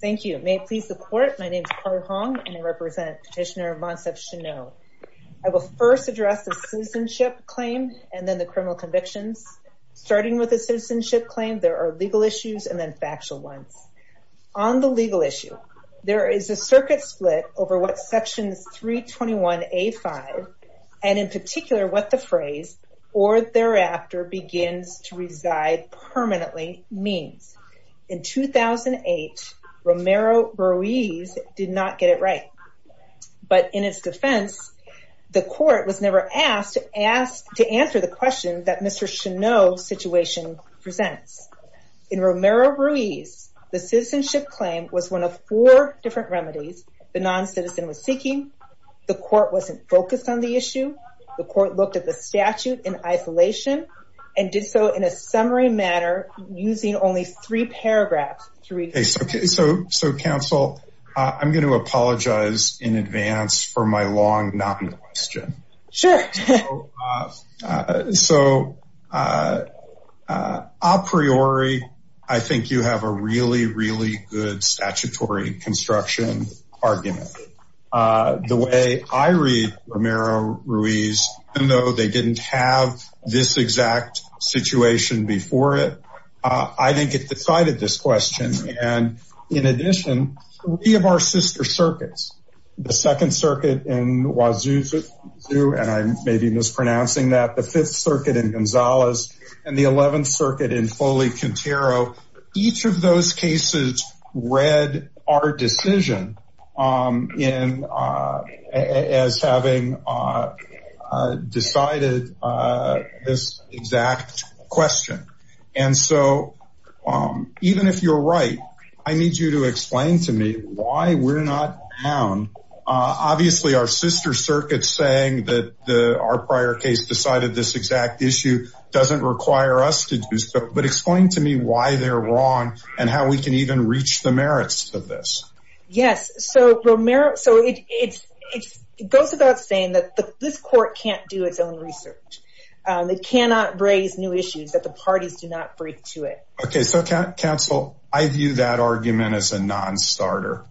Thank you. May it please the court. My name is Carly Hong and I represent Petitioner Monssef Cheneau. I will first address the citizenship claim and then the criminal convictions. Starting with the citizenship claim, there are legal issues and then factual ones. On the legal issue, there is a circuit split over what sections 321A5, and in particular, what the phrase, or thereafter, begins to reside permanently means. In 2008, Romero-Ruiz did not get it right, but in its defense, the court was never asked to answer the question that Mr. Cheneau's situation presents. In Romero-Ruiz, the citizenship claim was one of four different remedies the non-citizen was seeking. The court wasn't focused on the issue. The court looked at the statute in isolation and did so in a summary manner, using only three paragraphs to read through. Okay. So, so, so counsel, I'm going to apologize in advance for my long non-question. Sure. So a priori, I think you have a really, really good statutory construction argument. The way I read Romero-Ruiz, even though they didn't have this exact situation before it, I think it decided this question. And in addition, three of our sister circuits, the Second Circuit in Wazuzu, and I may be mispronouncing that, the Fifth Circuit in Gonzalez, and the Eleventh Circuit in Foley-Quintero. Each of those cases read our decision as having decided this exact question. And so even if you're right, I need you to explain to me why we're not down. Obviously our sister circuits saying that our prior case decided this exact issue doesn't require us to do so, but explain to me why they're wrong and how we can even reach the merits of this. Yes. So Romero, so it's, it's, it goes without saying that this court can't do its own research. They cannot raise new issues that the parties do not break to it. Okay. So counsel, I view that argument as a non-starter.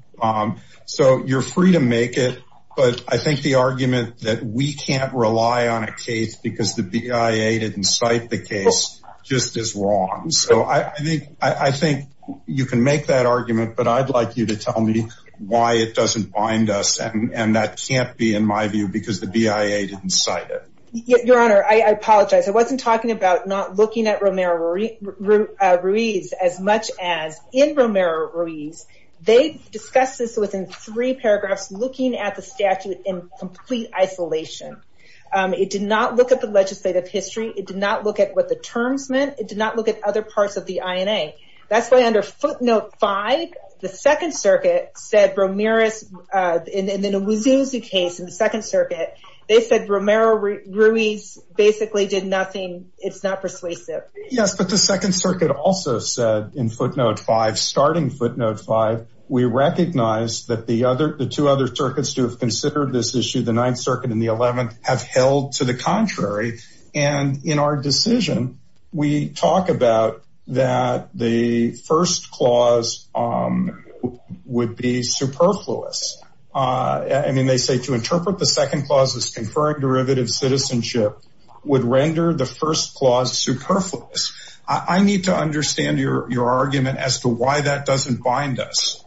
So you're free to make it, but I think the argument that we can't rely on a case because the BIA didn't cite the case just as wrong. So I think, I think you can make that argument, but I'd like you to tell me why it doesn't bind us and that can't be in my view because the BIA didn't cite it. Your Honor, I apologize. I wasn't talking about not looking at Romero-Ruiz as much as in Romero-Ruiz. They discussed this within three paragraphs, looking at the statute in complete isolation. It did not look at the legislative history. It did not look at what the terms meant. It did not look at other parts of the INA. That's why under footnote five, the second circuit said Romero's, and then it was used as a case in the second circuit. They said Romero-Ruiz basically did nothing. It's not persuasive. Yes. But the second circuit also said in footnote five, starting footnote five, we recognize that the other, the two other circuits to have considered this have held to the contrary. And in our decision, we talk about that the first clause would be superfluous. I mean, they say to interpret the second clause as conferring derivative citizenship would render the first clause superfluous. I need to understand your argument as to why that doesn't bind us.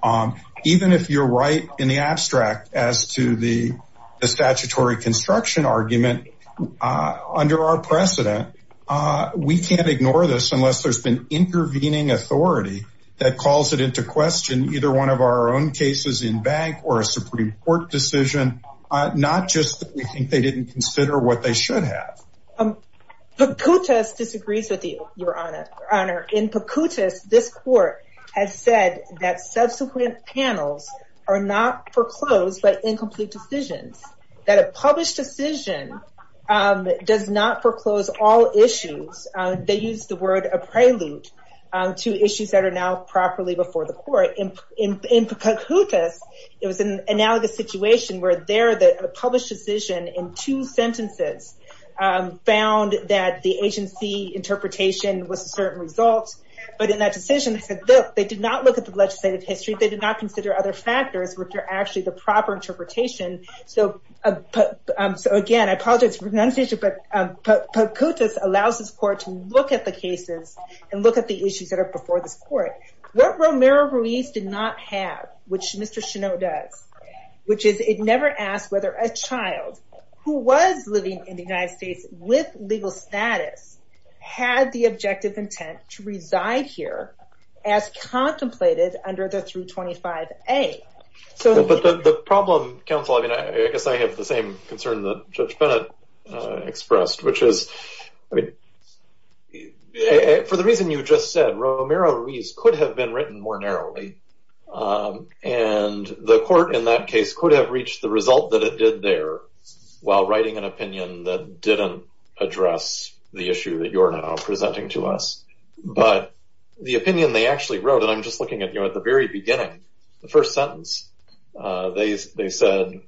Even if you're right in the abstract as to the statutory construction argument, under our precedent, we can't ignore this unless there's been intervening authority that calls it into question, either one of our own cases in bank or a Supreme Court decision, not just that we think they didn't consider what they should have. Pucutas disagrees with you, Your Honor. In Pucutas, this court has said that subsequent panels are not foreclosed by incomplete decisions, that a published decision does not foreclose all issues. They use the word a prelude to issues that are now properly before the court. In Pucutas, it was an analogous situation where there, the published decision in two sentences found that the agency interpretation was a certain result, but in that decision, they did not look at the legislative history. They did not consider other factors, which are actually the proper interpretation. So again, I apologize for the pronunciation, but Pucutas allows this court to look at the cases and look at the issues that are before this court. What Romero Ruiz did not have, which Mr. Child, who was living in the United States with legal status, had the objective intent to reside here as contemplated under the 325A. But the problem, counsel, I mean, I guess I have the same concern that Judge Bennett expressed, which is, for the reason you just said, Romero Ruiz could have been written more narrowly, and the court in that case could have reached the result that it did there while writing an opinion that didn't address the issue that you're now presenting to us. But the opinion they actually wrote, and I'm just looking at, you know, at the very beginning, the first sentence, they said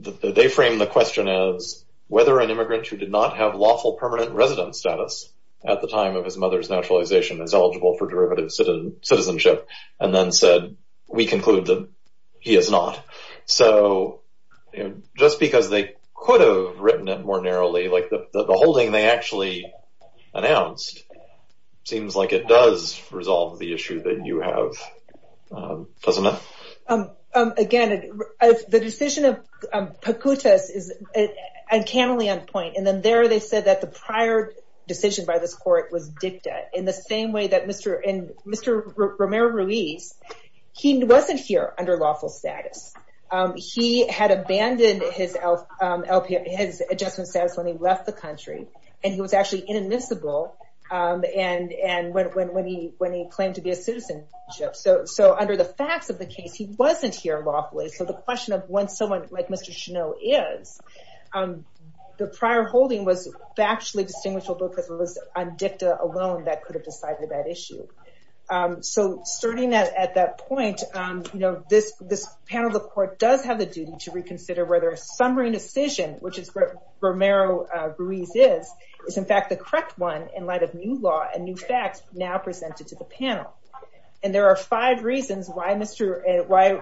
that they framed the question as whether an immigrant who did not have lawful permanent residence status at the time of his mother's naturalization is eligible for derivative citizenship, and then said, we conclude that he is not. So just because they could have written it more narrowly, like the holding they actually announced, seems like it does resolve the issue that you have, doesn't it? Again, the decision of Pacutas is uncannily on point. And then there they said that the prior decision by this court was dicta in the same way that Mr. Romero Ruiz, he wasn't here under lawful status. He had abandoned his adjustment status when he left the country, and he was actually inadmissible when he claimed to be a citizenship. So under the facts of the case, he wasn't here lawfully. So the question of when someone like Mr. Cheneau is, the prior holding was factually distinguishable because it was on dicta alone that could have decided that issue. So starting at that point, this panel of the court does have the duty to reconsider whether a summary decision, which is what Romero Ruiz is, is in fact the correct one in light of new law and new facts now presented to the panel. And there are five reasons why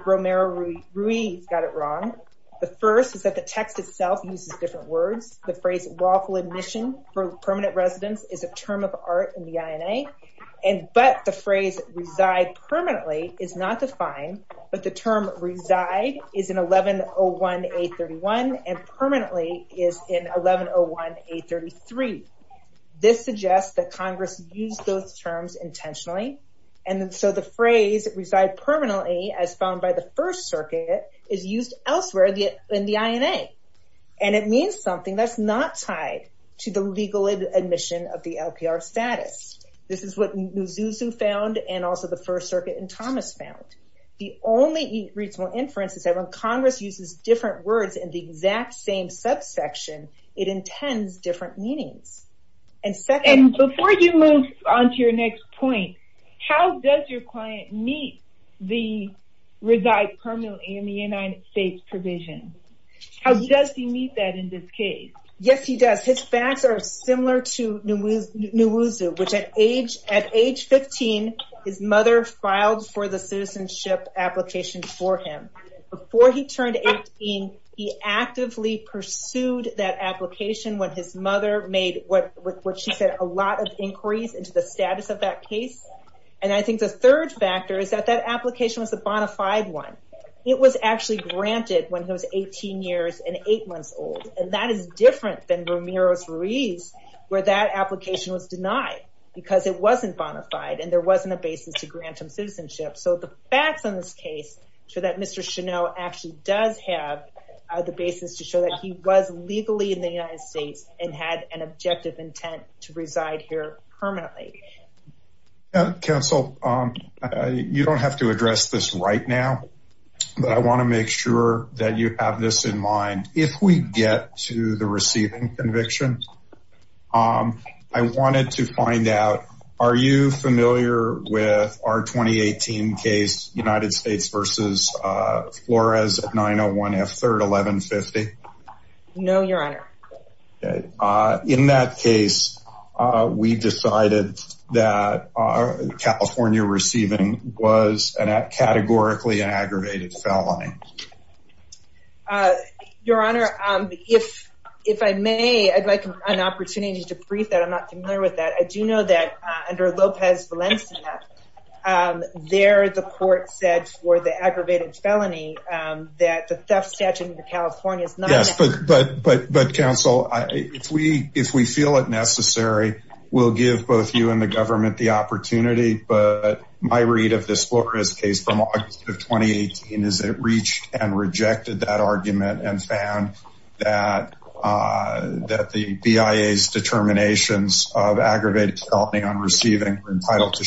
Romero Ruiz got it wrong. The first is that the text itself uses different words. The phrase lawful admission for permanent residence is a term of art in the INA. But the phrase reside permanently is not defined, but the term reside is in 1101A31 and permanently is in 1101A33. This suggests that Congress used those terms intentionally. And so the phrase reside permanently, as found by the first circuit, is used elsewhere in the INA. And it means something that's not tied to the legal admission of the LPR status. This is what Muzuzu found and also the first circuit and Thomas found. The only reasonable inference is that when Congress uses different words in the exact same subsection, it intends different meanings. And second- And before you move on to your next point, how does your client meet the reside permanently in the United States provision? How does he meet that in this case? Yes, he does. His facts are similar to Muzuzu, which at age 15, his mother filed for the citizenship application for him. Before he turned 18, he actively pursued that application when his mother made, what she said, a lot of inquiries into the status of that case. And I think the third factor is that that application was a bona fide one. It was actually granted when he was 18 years and eight months old. And that is different than Ramiro's Ruiz, where that application was denied because it wasn't bona fide and there wasn't a basis to grant him citizenship. So the facts on this case show that Mr. Chenot actually does have the basis to show that he was legally in the United States and had an objective intent to reside here permanently. Counsel, you don't have to address this right now, but I want to make sure that you have this in mind. If we get to the receiving conviction, I wanted to find out, are you familiar with our 2018 case, United States versus Flores at 901 F3rd 1150? No, Your Honor. In that case, we decided that California receiving was categorically an aggravated felony. Your Honor, if I may, I'd like an opportunity to brief that. I'm not familiar with that. I do know that under Lopez Valencia, there the court said for the aggravated felony that the theft statute in California is not- Yes, but counsel, if we feel it necessary, we'll give both you and the government the opportunity, but my read of this Flores case from August of 2018 is that it reads and rejected that argument and found that the BIA's determinations of aggravated felony on receiving were entitled to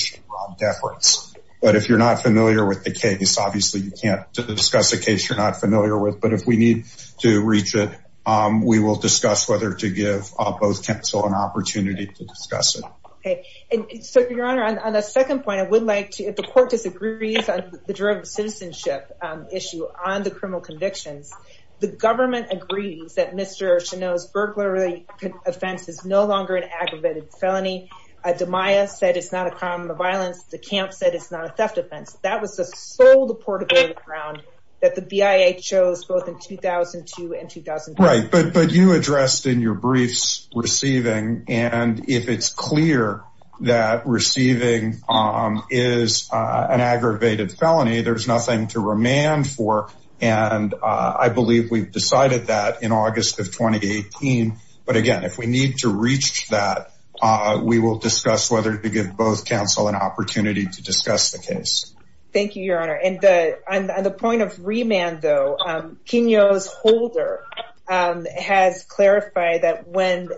deference, but if you're not familiar with the case, obviously you can't discuss a case you're not familiar with, but if we need to reach it, we will discuss whether to give both counsel an opportunity to discuss it. Okay, and so, Your Honor, on the second point, I would like to, if the court disagrees on the derivative of citizenship issue on the criminal convictions, the government agrees that Mr. Cheneau's burglary offense is no longer an aggravated felony. DiMaia said it's not a crime of violence. The camp said it's not a theft offense. That was the sole deportable ground that the BIA chose both in 2002 and 2003. Right, but you addressed in your briefs receiving, and if it's clear that receiving is an aggravated felony, there's nothing to remand for, and I believe we've decided that in August of 2018, but again, if we need to reach that, we will discuss whether to give both counsel an opportunity to discuss the case. Thank you, Your Honor, and on the point of remand, though, Kenyo's holder has clarified that when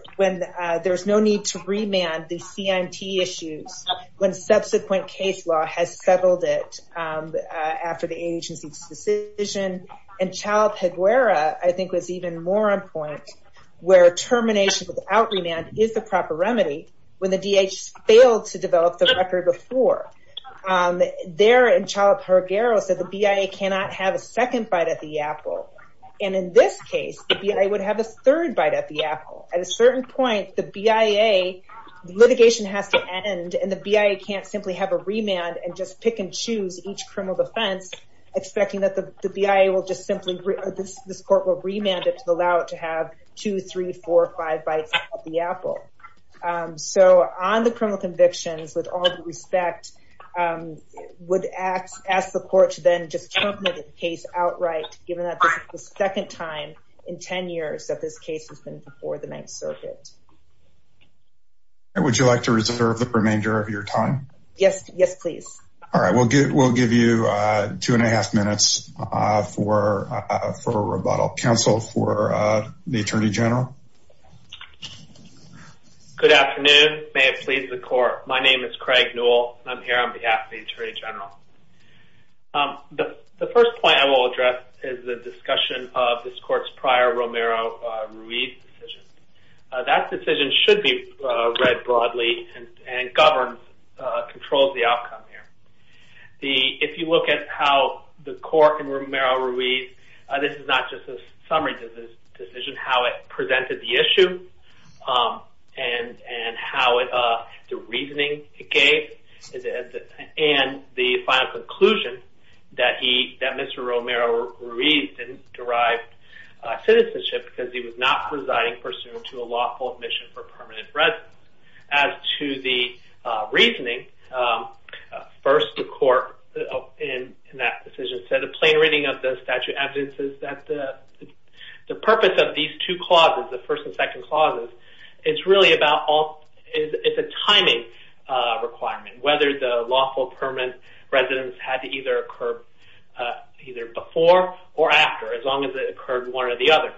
there's no need to remand the CIMT issues when subsequent case law has settled it after the agency's decision, and Chalup-Higuera, I think, was even more on point where termination without remand is the proper remedy when the DHS failed to develop the record before. There, and Chalup-Higuera said the BIA cannot have a second bite at the apple, and in this case, the BIA would have a third bite at the apple. At a certain point, the BIA, the litigation has to end, and the BIA can't simply have a remand and just pick and choose each criminal defense expecting that the BIA will just simply, this court will remand it to allow it to have two, three, four, five bites at the apple. So, on the criminal convictions, with all due respect, I would ask the court to then just terminate the case outright, given that this is the second time in 10 years that this case has been before the Ninth Circuit. Would you like to reserve the remainder of your time? Yes, yes, please. All right, we'll give you two and a half minutes for rebuttal. Counsel for the Attorney General. Good afternoon. May it please the court. My name is Craig Newell. I'm here on behalf of the Attorney General. The first point I will address is the discussion of this court's prior Romero-Ruiz decision. That decision should be read broadly and governs, controls the outcome here. If you look at how the court in Romero-Ruiz, this is not just a summary decision, how it and the final conclusion that he, that Mr. Romero-Ruiz didn't derive citizenship because he was not presiding pursuant to a lawful admission for permanent residence. As to the reasoning, first the court in that decision said a plain reading of the statute evidence is that the purpose of these two clauses, the first and second clauses, it's really about all, it's a timing requirement. Whether the lawful permanent residence had to either occur either before or after, as long as it occurred one or the other.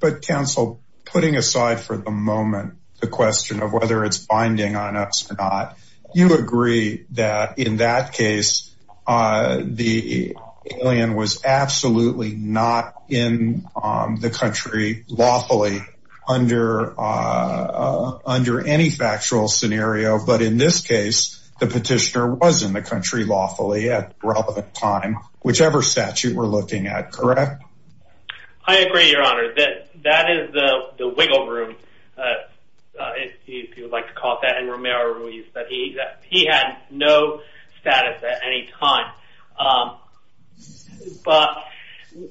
But counsel, putting aside for the moment the question of whether it's binding on us or not, you agree that in that case, the alien was absolutely not in the country lawfully under any factual scenario. But in this case, the petitioner was in the country lawfully at relevant time, whichever statute we're looking at, correct? I agree, Your Honor. That is the wiggle room, if you would like to call it that. Romero-Ruiz, that he had no status at any time. But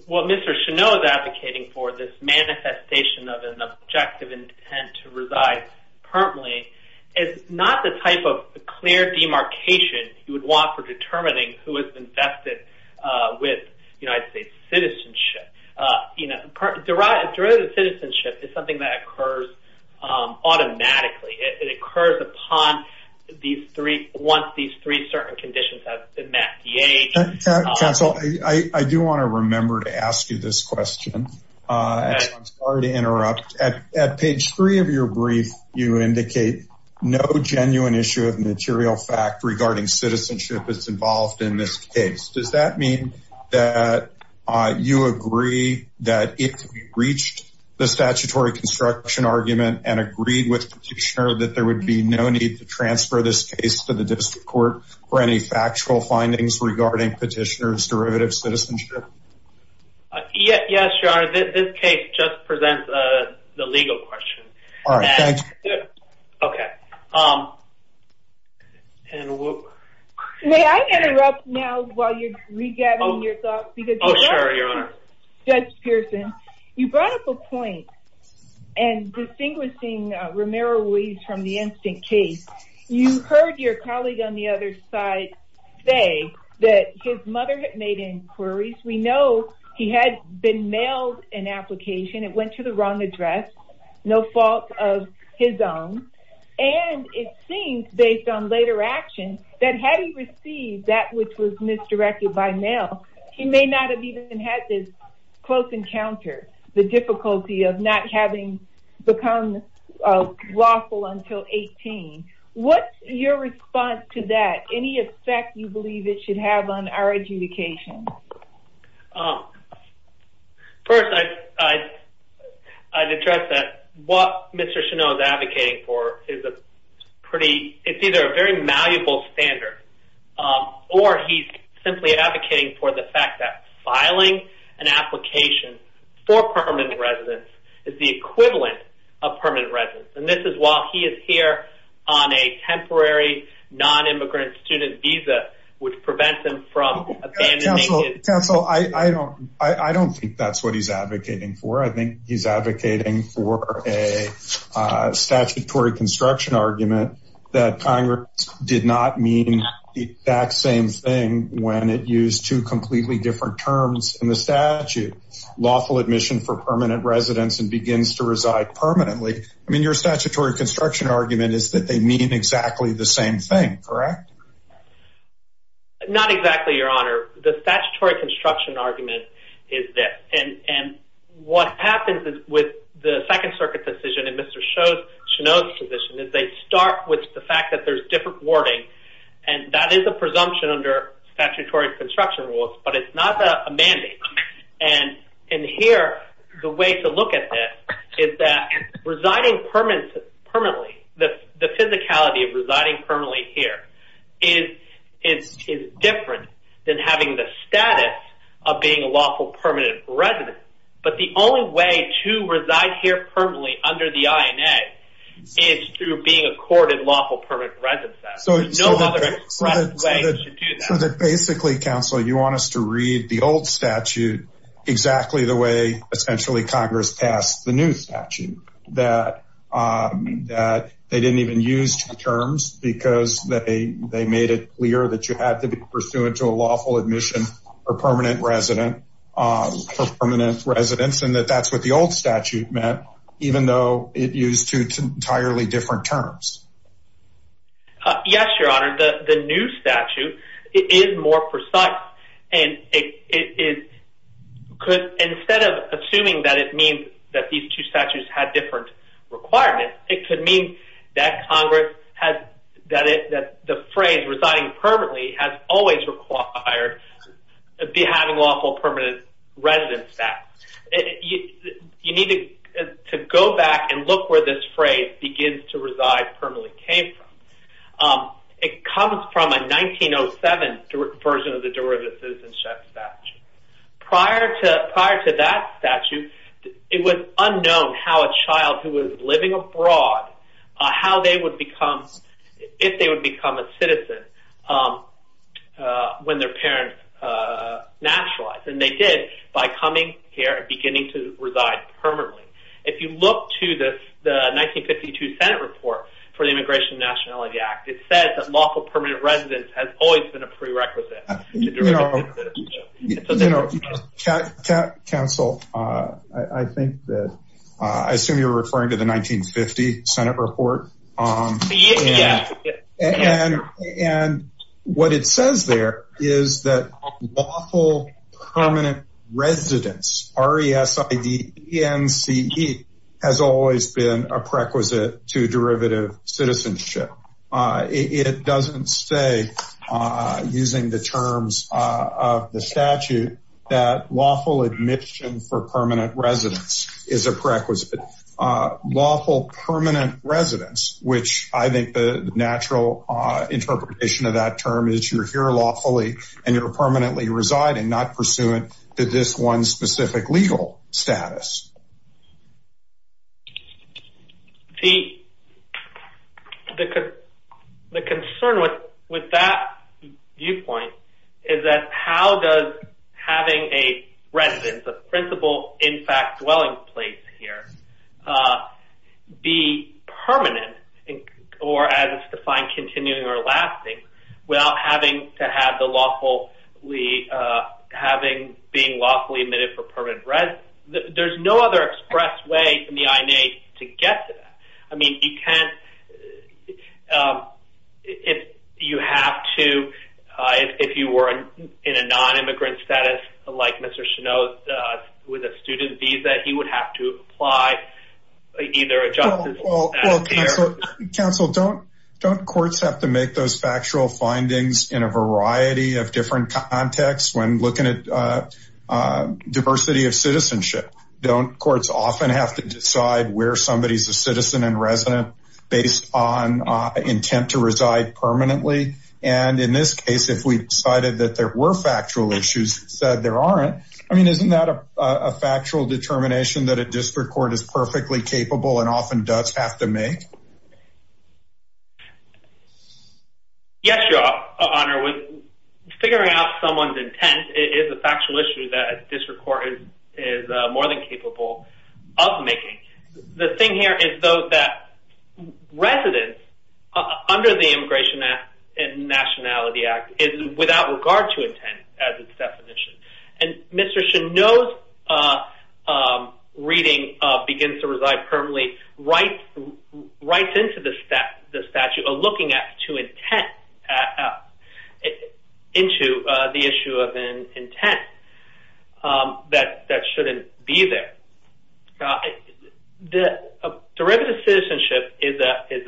what Mr. Cheneau is advocating for, this manifestation of an objective intent to reside permanently, is not the type of clear demarcation you would want for determining who is invested with United States citizenship. Derivative citizenship is something that occurs automatically. It occurs upon these three, once these three certain conditions have been met. Counsel, I do want to remember to ask you this question. I'm sorry to interrupt. At page three of your brief, you indicate no genuine issue of material fact regarding citizenship that's involved in this case. Does that mean that you agree that if we reached the statutory construction argument and agreed that there would be no need to transfer this case to the district court for any factual findings regarding petitioner's derivative citizenship? Yes, Your Honor. This case just presents the legal question. May I interrupt now while you're regathering your thoughts? Oh, sure, Your Honor. Judge Pearson, you brought up a point in distinguishing Romero-Weiss from the instant case. You heard your colleague on the other side say that his mother had made inquiries. We know he had been mailed an application. It went to the wrong address, no fault of his own. And it seems, based on later action, that had he received that which was misdirected by mail, he may not have even had this close encounter, the difficulty of not having become lawful until 18. What's your response to that? Any effect you believe it should have on our adjudication? First, I'd address that what Mr. Chenault is advocating for is a pretty – it's either a very malleable standard, or he's simply advocating for the fact that filing an application for permanent residence is the equivalent of permanent residence. And this is while he is here on a temporary non-immigrant student visa, which prevents him from abandoning his – Counsel, I don't think that's what he's advocating for. I think he's advocating for a statutory construction argument that Congress did not mean the exact same thing when it used two completely different terms in the statute. Lawful admission for permanent residence and begins to reside permanently. I mean, your statutory construction argument is that they mean exactly the same thing, correct? Not exactly, Your Honor. The statutory construction argument is this. And what happens with the Second Circuit's decision and Mr. Chenault's position is they start with the fact that there's different wording, and that is a presumption under statutory construction rules, but it's not a mandate. And here, the way to look at this is that residing permanently, the physicality of residing permanently, but the only way to reside here permanently under the INA is through being accorded lawful permanent residence. There's no other way to do that. So basically, Counsel, you want us to read the old statute exactly the way essentially Congress passed the new statute, that they didn't even use two terms because they made clear that you had to be pursuant to a lawful admission for permanent residence, and that that's what the old statute meant, even though it used two entirely different terms. Yes, Your Honor, the new statute is more precise. And instead of assuming that it means that these two statutes had different requirements, it could mean that the phrase residing permanently has always required having lawful permanent residence back. You need to go back and look where this phrase begins to reside permanently came from. It comes from a 1907 version of the derivative citizenship statute. Prior to that statute, it was unknown how a child who was living abroad, how they would become, if they would become a citizen, when their parents naturalized. And they did by coming here and beginning to reside permanently. If you look to the 1952 Senate report for the Immigration and Nationality Act, it says that lawful permanent residence has always been a prerequisite. Counsel, I think that I assume you're referring to the 1950 Senate report. And what it says there is that lawful permanent residence, R-E-S-I-D-E-N-C-E, has always been a prerequisite to derivative citizenship. It doesn't say, using the terms of the statute, that lawful admission for permanent residence is a prerequisite. Lawful permanent residence, which I think the natural interpretation of that term is you're here lawfully and you're permanently residing, not pursuant to this one specific legal status. The concern with that viewpoint is that how does having a residence, a principal, in fact, dwelling place here, be permanent, or as it's defined, continuing or lasting, without having to have the lawfully, having being lawfully admitted for permanent residence? There's no other express way from the INA to get to that. I mean, you can't, if you have to, if you were in a non-immigrant status, like Mr. Cheneaux, with a student visa, he would have to apply either a justice status here. Counsel, don't courts have to make those factual findings in a variety of different contexts when looking at diversity of citizenship? Don't courts often have to decide where somebody is a citizen and resident based on intent to reside permanently? And in this case, if we decided that there were factual issues and said there aren't, I mean, isn't that a factual determination that a district court is perfectly capable and often does have to make? Yes, Your Honor. Figuring out someone's intent is a factual issue that a district court is more than capable of making. The thing here is, though, that residence, under the Immigration and Nationality Act, is without regard to intent as its definition, and Mr. Cheneaux's reading of begins to reside permanently, writes into the statute a looking at to intent, into the issue of an intent that shouldn't be there. Derivative citizenship is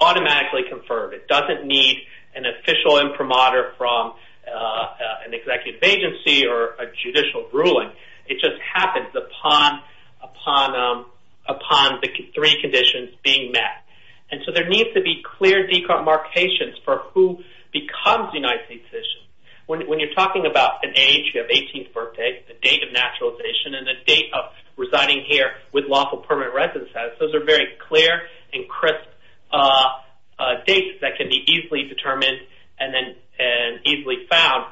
automatically conferred. It doesn't need an official imprimatur from an executive agency or a judicial ruling. It just happens upon the three conditions being met. And so there needs to be clear decontamination for who becomes a United States citizen. When you're talking about an age, you have 18th birthday, the date of naturalization, and the date of residing here with lawful permanent residence status, those are very clear and crisp dates that can be easily determined and easily found.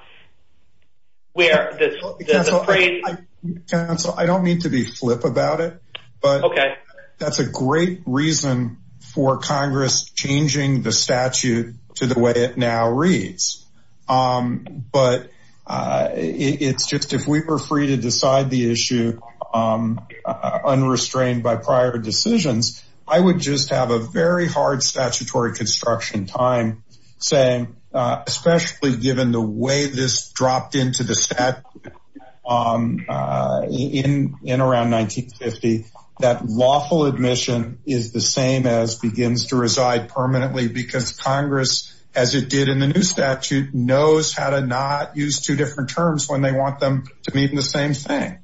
Counsel, I don't mean to be flip about it, but that's a great reason for Congress changing the statute to the way it now reads. But it's just if we were free to decide the issue unrestrained by prior decisions, I would just have a very hard statutory construction time saying, especially given the way this dropped into the statute in around 1950, that lawful admission is the same as begins to reside permanently because Congress, as it did in the new statute, knows how to not use two different terms when they want them to meet in the same thing.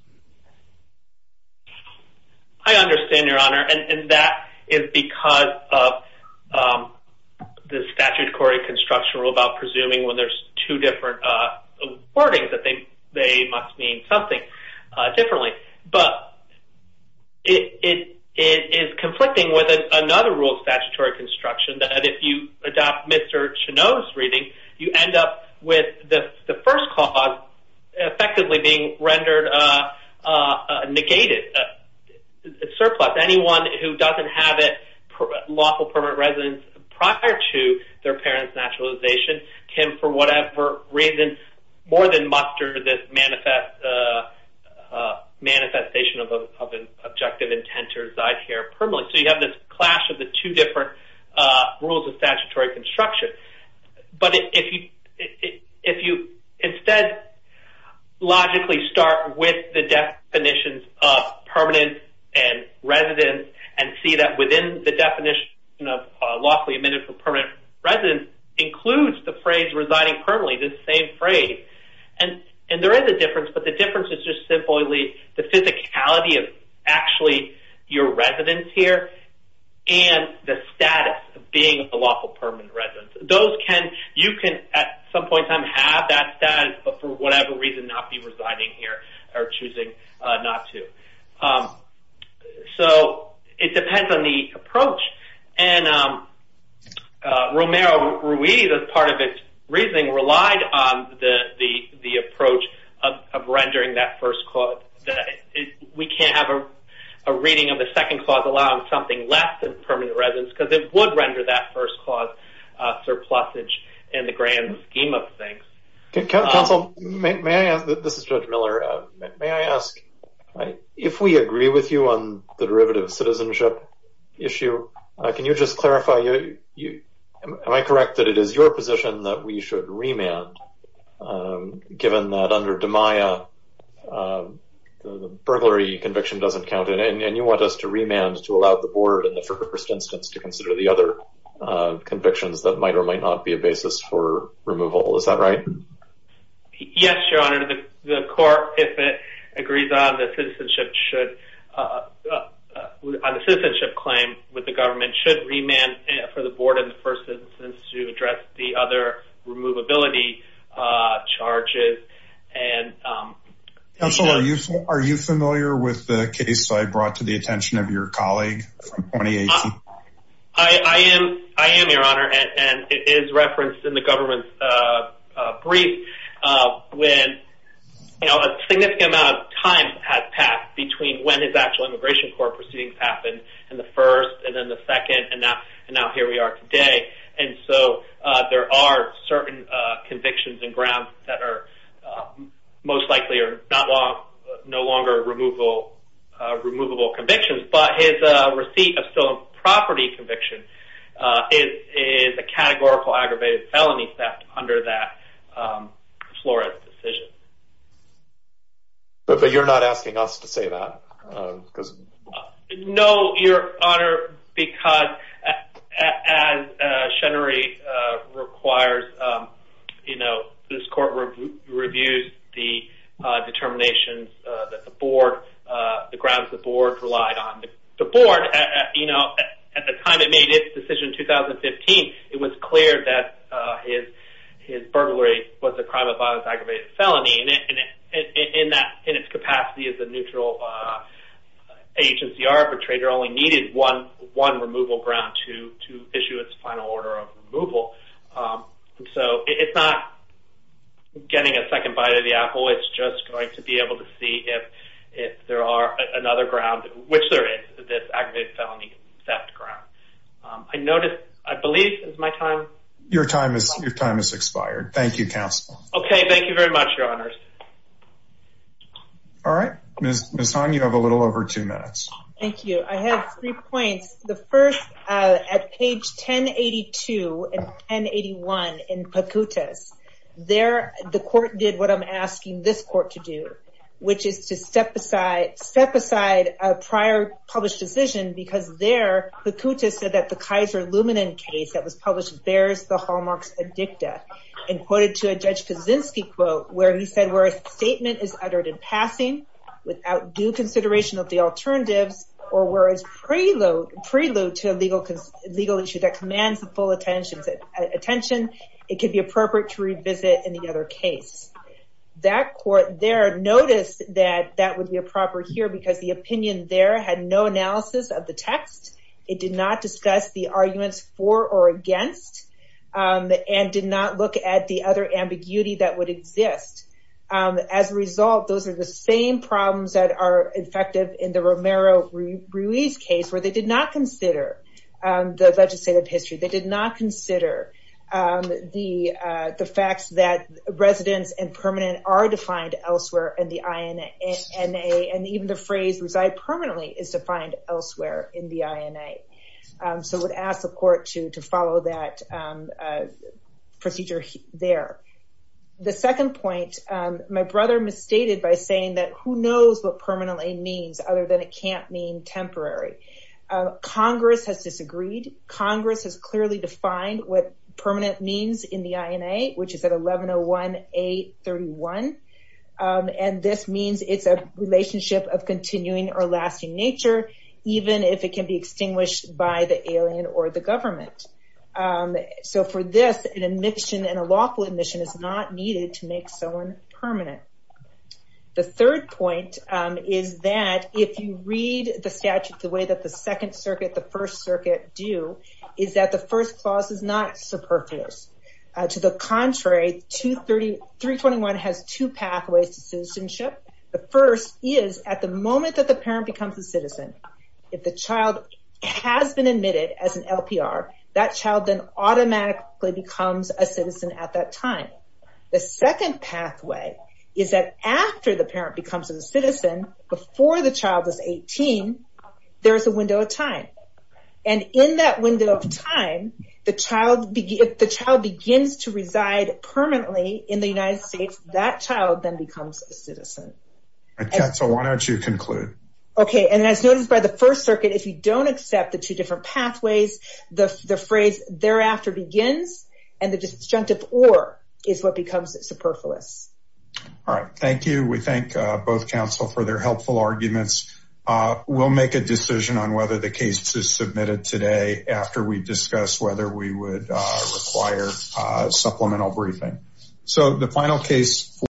I understand, Your Honor, and that is because of the statutory construction rule about presuming when there's two different wordings that they must mean something differently. But it is conflicting with another rule of statutory construction that if you adopt Mr. No's reading, you end up with the first cause effectively being rendered negated, surplus. Anyone who doesn't have lawful permanent residence prior to their parent's naturalization can, for whatever reason, more than muster this manifestation of an objective intent to reside here permanently. You have this clash of the two different rules of statutory construction. But if you instead logically start with the definitions of permanent and residence and see that within the definition of lawfully admitted from permanent residence includes the phrase residing permanently, the same phrase. There is a difference, but the difference is just simply the physicality of actually your residence here and the status of being a lawful permanent residence. Those can, you can at some point in time have that status, but for whatever reason not be residing here or choosing not to. So it depends on the approach. And Romero-Ruiz, as part of its reasoning, relied on the approach of rendering that first reading of the second clause allowing something less than permanent residence because it would render that first clause surplusage in the grand scheme of things. Counsel, may I ask, this is Judge Miller, may I ask, if we agree with you on the derivative citizenship issue, can you just clarify, am I correct that it is your position that we should remand given that under DiMaia the burglary conviction doesn't count and you want us to remand to allow the board in the first instance to consider the other convictions that might or might not be a basis for removal? Is that right? Yes, Your Honor, the court, if it agrees on the citizenship claim with the government should remand for the board in the first instance to address the other removability charges. Counsel, are you familiar with the case I brought to the attention of your colleague from 2018? I am, Your Honor, and it is referenced in the government's brief when a significant amount of time has passed between when his actual immigration court proceedings happened in the first and then the second and now here we are today. And so there are certain convictions and grounds that are most likely are no longer removable convictions, but his receipt of stolen property conviction is a categorical aggravated felony theft under that Flores decision. But you're not asking us to say that? No, Your Honor, because as Chenery requires, you know, this court reviews the determinations that the board, the grounds the board relied on. The board, you know, at the time it made its decision in 2015, it was clear that his burglary was a crime of violence, aggravated felony, and in its capacity as a neutral agency arbitrator only needed one removal ground to issue its final order of removal. So it's not getting a second bite of the apple. It's just going to be able to see if there are another ground, which there is, this aggravated felony theft ground. I noticed, I believe it's my time. Your time has expired. Thank you, counsel. Okay. Thank you very much, Your Honors. All right. Ms. Han, you have a little over two minutes. Thank you. I have three points. The first at page 1082 and 1081 in Pacuta's, there, the court did what I'm asking this court to do, which is to step aside, step aside a prior published decision, because there, Pacuta said that the Kaiser Luminen case that was published bears the hallmarks of dicta and quoted to a Judge Kaczynski quote, where he said, where a statement is uttered in passing without due consideration of the alternatives or whereas prelude to legal issue that commands the full attention, it could be appropriate to revisit any other case. That court there noticed that that would be a proper here because the opinion there had no analysis of the text. It did not discuss the arguments for or against and did not look at the other ambiguity that would exist. As a result, those are the same problems that are effective in the Romero-Ruiz case, where they did not consider the legislative history. They did not consider the facts that residence and permanent are defined elsewhere in the INA. So I would ask the court to follow that procedure there. The second point, my brother misstated by saying that who knows what permanently means other than it can't mean temporary. Congress has disagreed. Congress has clearly defined what permanent means in the INA, which is at 1101-A31. And this means it's a relationship of continuing or lasting nature, even if it can be extinguished by the alien or the government. So for this, an admission and a lawful admission is not needed to make someone permanent. The third point is that if you read the statute the way that the Second Circuit, the First Circuit do, is that the first clause is not superfluous. To the contrary, 321 has two pathways to citizenship. The first is at the moment that the parent becomes a citizen, if the child has been admitted as an LPR, that child then automatically becomes a citizen at that time. The second pathway is that after the parent becomes a citizen, before the child is 18, there is a window of time. And in that window of time, if the child begins to reside permanently in the United States, that child then becomes a citizen. And Katzel, why don't you conclude? Okay. And as noted by the First Circuit, if you don't accept the two different pathways, the phrase thereafter begins, and the disjunctive or is what becomes superfluous. All right. Thank you. We thank both counsel for their helpful arguments. We'll make a decision on whether the case is submitted today after we discuss whether we would require supplemental briefing. So the final case.